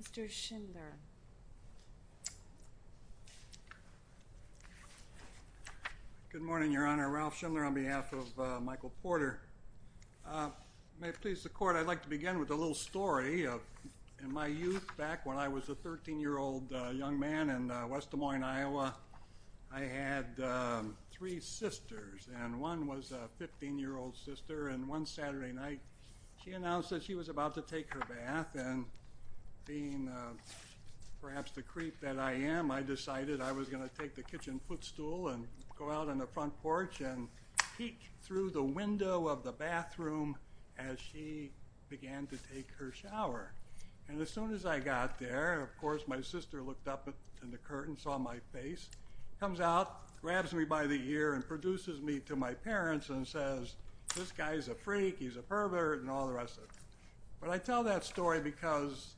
Mr. Schindler Good morning, Your Honor. Ralph Schindler on May it please the Court, I'd like to begin with a little story. In my youth, back when I was a 13-year-old young man in West Des Moines, Iowa, I had three sisters, and one was a 15-year-old sister, and one Saturday night, she announced that she was about to take her bath, and being perhaps the creep that I am, I decided I was going to take the kitchen footstool and go out on the front porch and peek through the window of the bathroom door. As she began to take her shower, and as soon as I got there, of course, my sister looked up in the curtain, saw my face, comes out, grabs me by the ear, and produces me to my parents and says, this guy's a freak, he's a pervert, and all the rest of it. But I tell that story because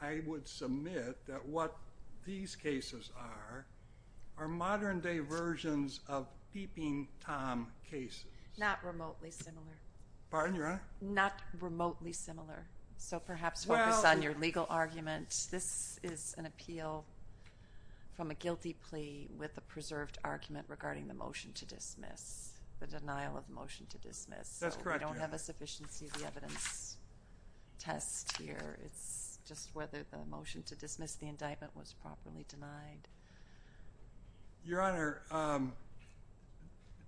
I would submit that what these cases are, are modern-day versions of peeping Tom cases. Pardon, Your Honor? The denial of the motion to dismiss. That's correct, Your Honor. We don't have a sufficiency of the evidence test here. It's just whether the motion to dismiss the indictment was properly denied. Your Honor,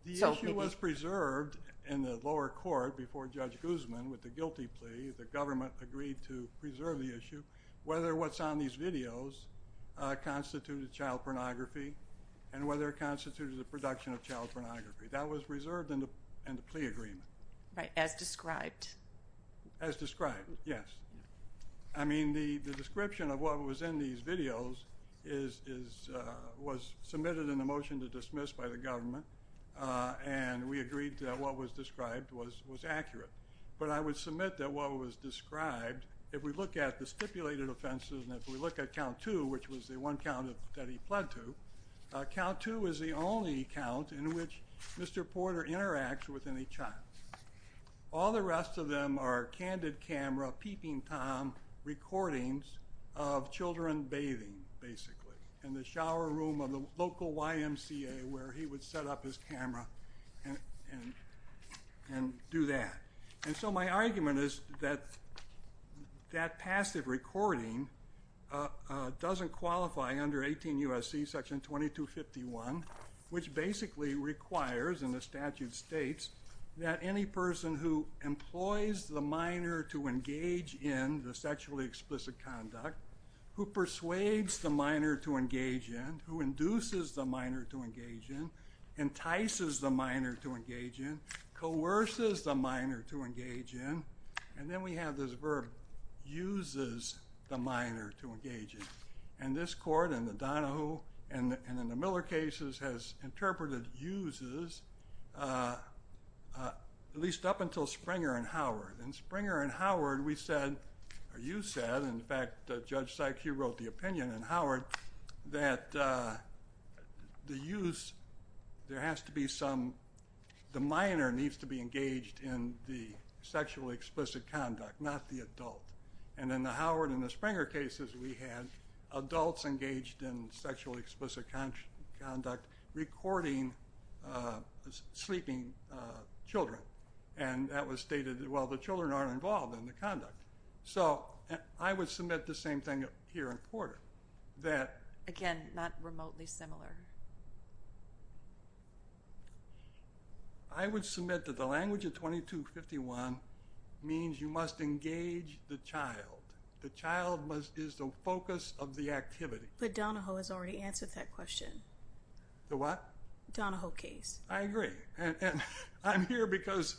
the issue was preserved in the lower court before Judge Guzman with the guilty plea. The government agreed to preserve the issue. Whether what's on these videos constituted child pornography and whether it constituted the production of child pornography, that was reserved in the plea agreement. Right, as described. As described, yes. I mean, the description of what was in these videos was submitted in the motion to dismiss by the government, and we agreed that what was described was accurate. But I would submit that what was described, if we look at the stipulated offenses and if we look at count two, which was the one count that he pled to, count two is the only count in which Mr. Porter interacts with any child. All the rest of them are candid camera peeping Tom recordings of children bathing, basically, in the shower room of the local YMCA where he would set up his camera and do that. And so my argument is that that passive recording doesn't qualify under 18 U.S.C. section 2251, which basically requires, and the statute states, that any person who employs the minor to engage in the sexually explicit conduct, who persuades the minor to engage in, who induces the minor to engage in, entices the minor to engage in, coerces the minor to engage in, and then we have this verb, uses the minor to engage in. And this court in the Donahoe and in the Miller cases has interpreted uses, at least up until Springer and Howard. In Springer and Howard, we said, or you said, in fact, Judge Sykes, you wrote the opinion in Howard that the use, there has to be some, the minor needs to be engaged in the sexually explicit conduct, not the adult. And in the Howard and the Springer cases, we had adults engaged in sexually explicit conduct recording sleeping children. And that was stated, well, the children aren't involved in the conduct. So I would submit the same thing here in Porter, that. Again, not remotely similar. I would submit that the language of 2251 means you must engage the child. The child is the focus of the activity. But Donahoe has already answered that question. The what? Donahoe case. I agree. And I'm here because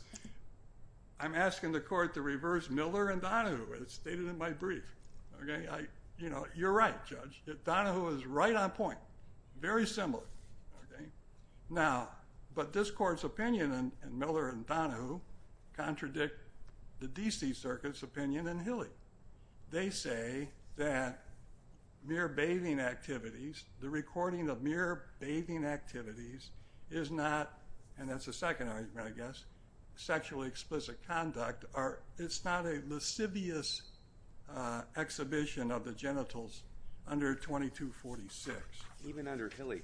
I'm asking the court to reverse Miller and Donahoe, as stated in my brief. You know, you're right, Judge. Donahoe is right on point. Very similar. Now, but this court's opinion in Miller and Donahoe contradict the D.C. Circuit's opinion in Hilly. They say that mere bathing activities, the recording of mere bathing activities is not, and that's the second argument, I guess, sexually explicit conduct. It's not a lascivious exhibition of the genitals under 2246. Even under Hilly,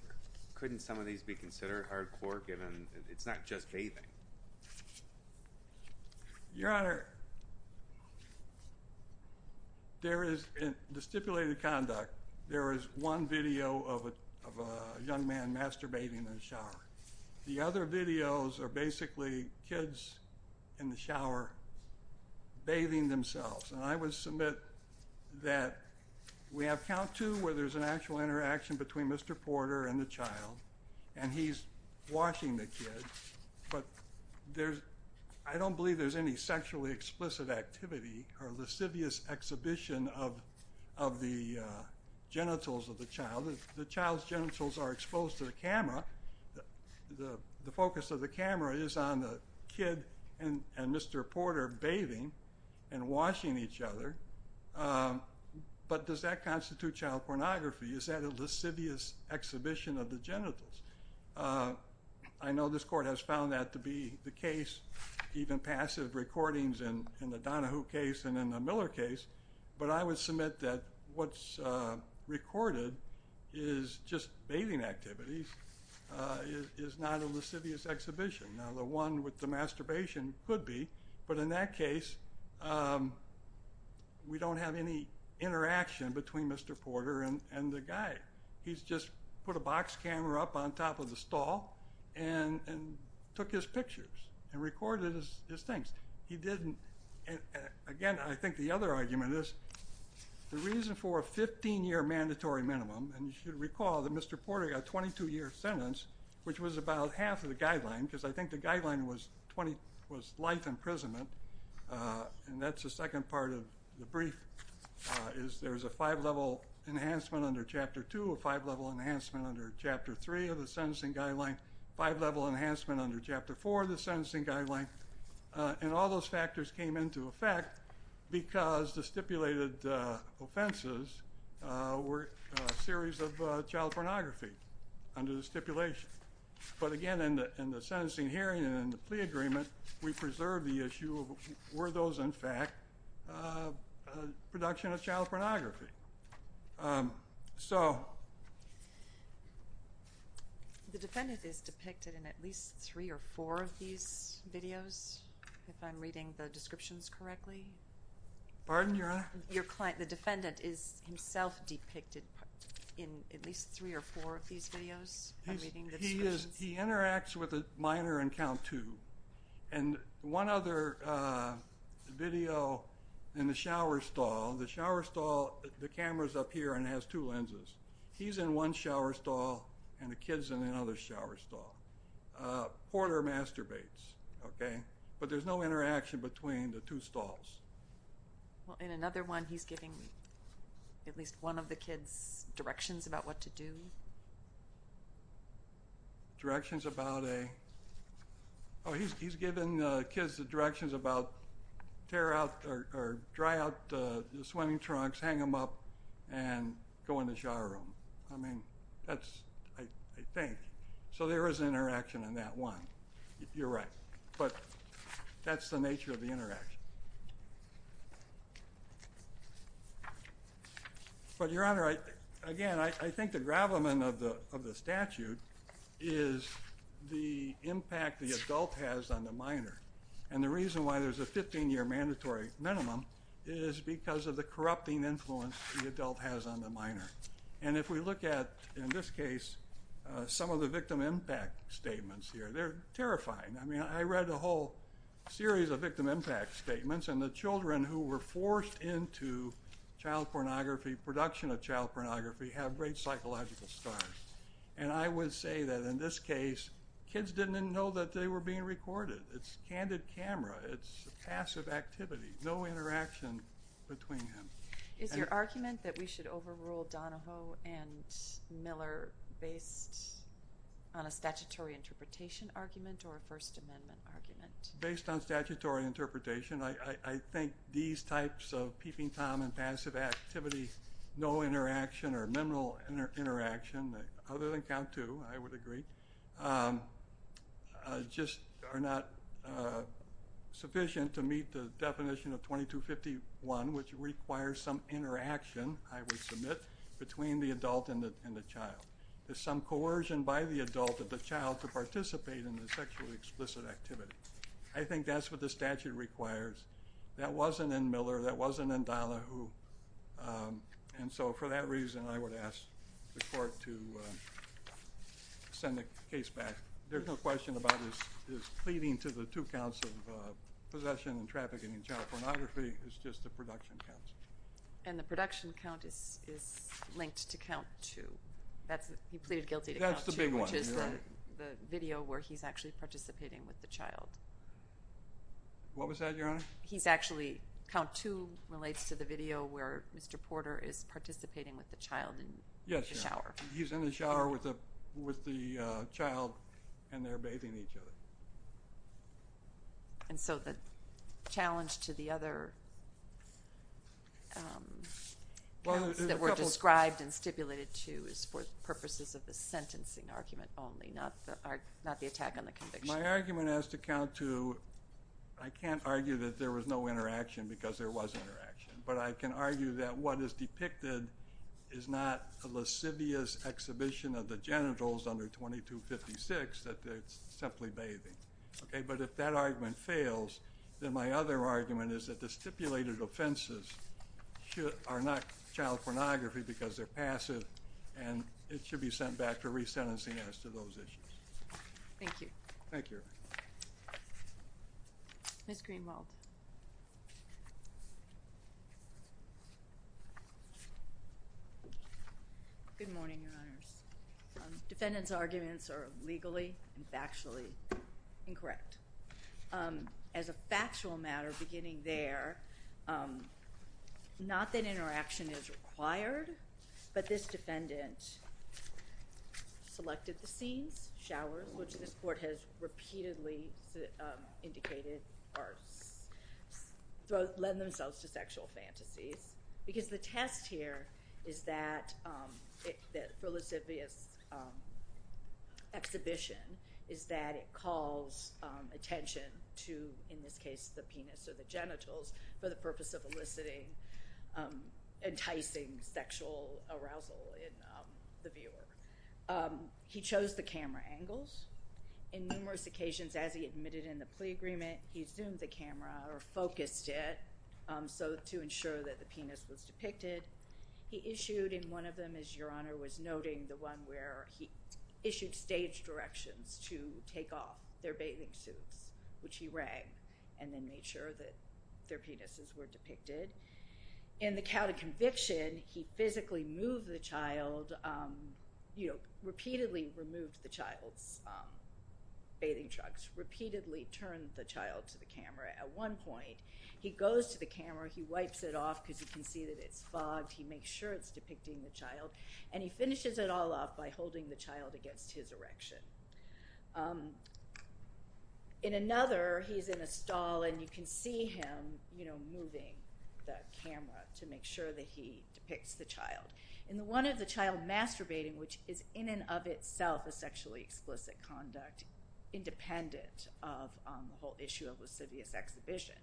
couldn't some of these be considered hardcore, given it's not just bathing? Your Honor, there is, in the stipulated conduct, there is one video of a young man masturbating in the shower. The other videos are basically kids in the shower bathing themselves. And I would submit that we have count two where there's an actual interaction between Mr. Porter and the child, and he's washing the kid. But I don't believe there's any sexually explicit activity or lascivious exhibition of the genitals of the child. The child's genitals are exposed to the camera. The focus of the camera is on the kid and Mr. Porter bathing and washing each other. But does that constitute child pornography? I know this court has found that to be the case, even passive recordings in the Donahue case and in the Miller case. But I would submit that what's recorded is just bathing activities is not a lascivious exhibition. Now, the one with the masturbation could be, but in that case, we don't have any interaction between Mr. Porter and the guy. He's just put a box camera up on top of the stall and took his pictures and recorded his things. He didn't. And, again, I think the other argument is the reason for a 15-year mandatory minimum, and you should recall that Mr. Porter got a 22-year sentence, which was about half of the guideline, because I think the guideline was life imprisonment. And that's the second part of the brief, is there's a five-level enhancement under Chapter 2, a five-level enhancement under Chapter 3 of the sentencing guideline, five-level enhancement under Chapter 4 of the sentencing guideline. And all those factors came into effect because the stipulated offenses were a series of child pornography under the stipulation. But, again, in the sentencing hearing and in the plea agreement, we preserved the issue of were those, in fact, production of child pornography. So. The defendant is depicted in at least three or four of these videos, if I'm reading the descriptions correctly. Pardon, Your Honor? Your client, the defendant, is himself depicted in at least three or four of these videos, if I'm reading the descriptions? He interacts with a minor on count two. And one other video in the shower stall, the shower stall, the camera's up here and has two lenses. He's in one shower stall, and the kid's in another shower stall. Porter masturbates, okay? But there's no interaction between the two stalls. Well, in another one, he's giving at least one of the kids directions about what to do. Directions about a ‑‑ oh, he's giving the kids directions about tear out or dry out the swimming trunks, hang them up, and go in the shower room. I mean, that's, I think. So there is interaction in that one. You're right. But that's the nature of the interaction. But, Your Honor, again, I think the gravamen of the statute is the impact the adult has on the minor. And the reason why there's a 15‑year mandatory minimum is because of the corrupting influence the adult has on the minor. And if we look at, in this case, some of the victim impact statements here, they're terrifying. I mean, I read a whole series of victim impact statements, and the children who were forced into child pornography, production of child pornography, have great psychological scars. And I would say that, in this case, kids didn't even know that they were being recorded. It's a candid camera. It's passive activity. No interaction between them. Is your argument that we should overrule Donahoe and Miller based on a statutory interpretation argument or a First Amendment argument? Based on statutory interpretation, I think these types of peeping Tom and passive activity, no interaction or minimal interaction, other than count two, I would agree, just are not sufficient to meet the definition of 2251, which requires some interaction, I would submit, between the adult and the child. There's some coercion by the adult of the child to participate in the sexually explicit activity. I think that's what the statute requires. That wasn't in Miller. That wasn't in Donahoe. And so, for that reason, I would ask the court to send the case back. There's no question about his pleading to the two counts of possession and trafficking in child pornography. It's just the production counts. And the production count is linked to count two. He pleaded guilty to count two, which is the video where he's actually participating with the child. What was that, Your Honor? He's actually, count two relates to the video where Mr. Porter is participating with the child in the shower. Yes, Your Honor. He's in the shower with the child, and they're bathing each other. And so the challenge to the other counts that were described and stipulated to is for purposes of the sentencing argument only, not the attack on the conviction. My argument as to count two, I can't argue that there was no interaction because there was interaction. But I can argue that what is depicted is not a lascivious exhibition of the genitals under 2256, that it's simply bathing. But if that argument fails, then my other argument is that the stipulated offenses are not child pornography because they're passive, and it should be sent back for resentencing as to those issues. Thank you. Thank you. Ms. Greenwald. Good morning, Your Honors. Defendant's arguments are legally and factually incorrect. As a factual matter beginning there, not that interaction is required, but this defendant selected the scenes, showers, which this court has repeatedly indicated lend themselves to sexual fantasies, because the test here for lascivious exhibition is that it calls attention to, in this case, the penis or the genitals, for the purpose of eliciting, enticing sexual arousal in the viewer. He chose the camera angles. In numerous occasions, as he admitted in the plea agreement, he zoomed the camera or focused it to ensure that the penis was depicted. He issued, in one of them, as Your Honor was noting, the one where he issued stage directions to take off their bathing suits, which he rang and then made sure that their penises were depicted. In the count of conviction, he physically moved the child, you know, repeatedly removed the child's bathing trunks, repeatedly turned the child to the camera. At one point, he goes to the camera. He wipes it off because he can see that it's fogged. He makes sure it's depicting the child, and he finishes it all off by holding the child against his erection. In another, he's in a stall, and you can see him, you know, moving the camera to make sure that he depicts the child. In the one of the child masturbating, which is in and of itself a sexually explicit conduct, independent of the whole issue of lascivious exhibition,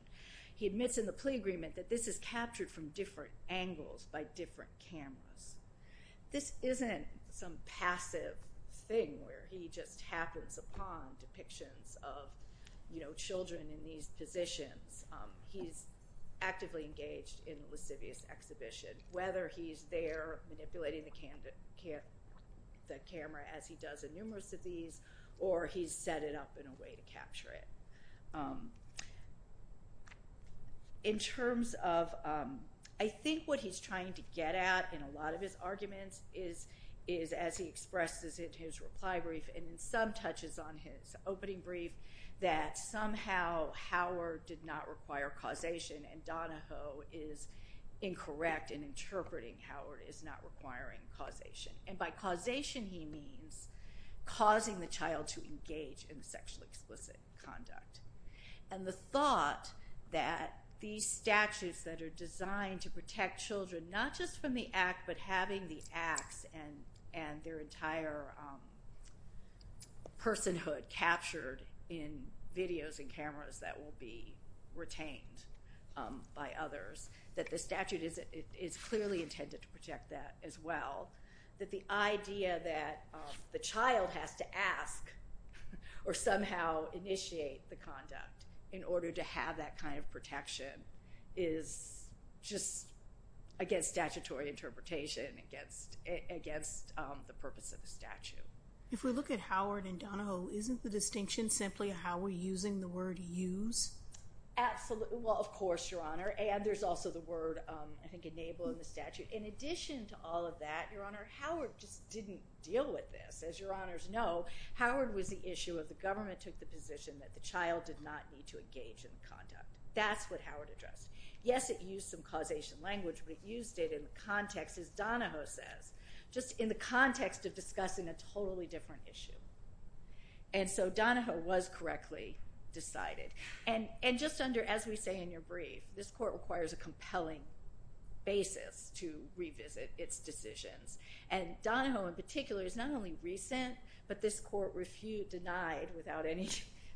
he admits in the plea agreement that this is captured from different angles by different cameras. This isn't some passive thing where he just happens upon depictions of, you know, children in these positions. He's actively engaged in the lascivious exhibition, whether he's there manipulating the camera as he does in numerous of these, or he's set it up in a way to capture it. In terms of, I think what he's trying to get at in a lot of his arguments is, as he expresses in his reply brief and in some touches on his opening brief, that somehow Howard did not require causation, and Donahoe is incorrect in interpreting Howard as not requiring causation. And by causation he means causing the child to engage in sexually explicit conduct. And the thought that these statutes that are designed to protect children, not just from the act, but having the acts and their entire personhood captured in videos and cameras that will be retained by others, that the statute is clearly intended to protect that as well, that the idea that the child has to ask or somehow initiate the conduct in order to have that kind of protection is just against statutory interpretation, against the purpose of the statute. If we look at Howard and Donahoe, isn't the distinction simply how we're using the word use? Absolutely. Well, of course, Your Honor. And there's also the word, I think, enable in the statute. In addition to all of that, Your Honor, Howard just didn't deal with this. As Your Honors know, Howard was the issue of the government took the position that the child did not need to engage in the conduct. That's what Howard addressed. Yes, it used some causation language, but it used it in the context, as Donahoe says, just in the context of discussing a totally different issue. And so Donahoe was correctly decided. And just under, as we say in your brief, this court requires a compelling basis to revisit its decisions. And Donahoe, in particular, is not only recent, but this court denied without any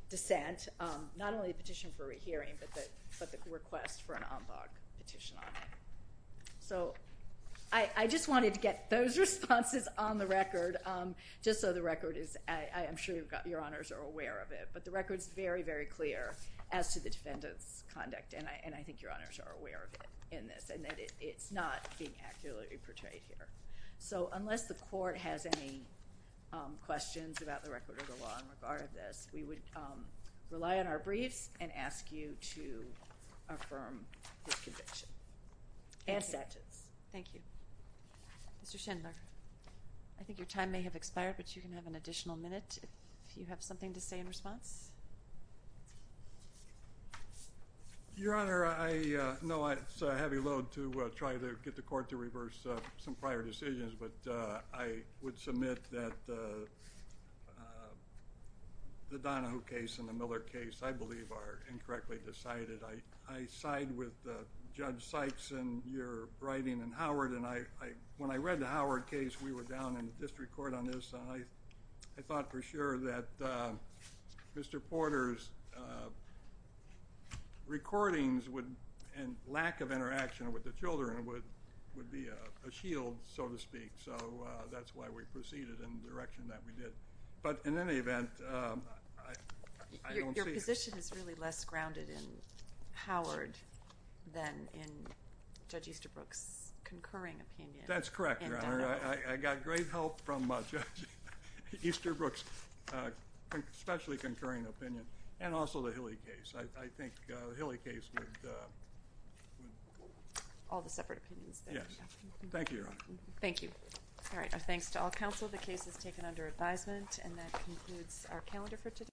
dissent, not only the petition for rehearing, but the request for an en banc petition on it. So I just wanted to get those responses on the record, just so the record is, I'm sure Your Honors are aware of it. But the record is very, very clear as to the defendant's conduct, and I think Your Honors are aware of it in this, and that it's not being accurately portrayed here. So unless the court has any questions about the record of the law in regard to this, we would rely on our briefs and ask you to affirm this conviction. And sentence. Thank you. Mr. Schindler, I think your time may have expired, but you can have an additional minute if you have something to say in response. Your Honor, I know it's a heavy load to try to get the court to reverse some prior decisions, but I would submit that the Donahoe case and the Miller case, I believe, are incorrectly decided. I side with Judge Sykes in your writing and Howard, and when I read the Howard case, we were down in the district court on this, I thought for sure that Mr. Porter's recordings and lack of interaction with the children would be a shield, so to speak. So that's why we proceeded in the direction that we did. But in any event, I don't see it. Your position is really less grounded in Howard than in Judge Easterbrook's concurring opinion in Donahoe. That's correct, Your Honor. I got great help from Judge Easterbrook's specially concurring opinion and also the Hilly case. I think the Hilly case would... All the separate opinions. Yes. Thank you, Your Honor. Thank you. All right. Thanks to all counsel. The case is taken under advisement, and that concludes our calendar for today.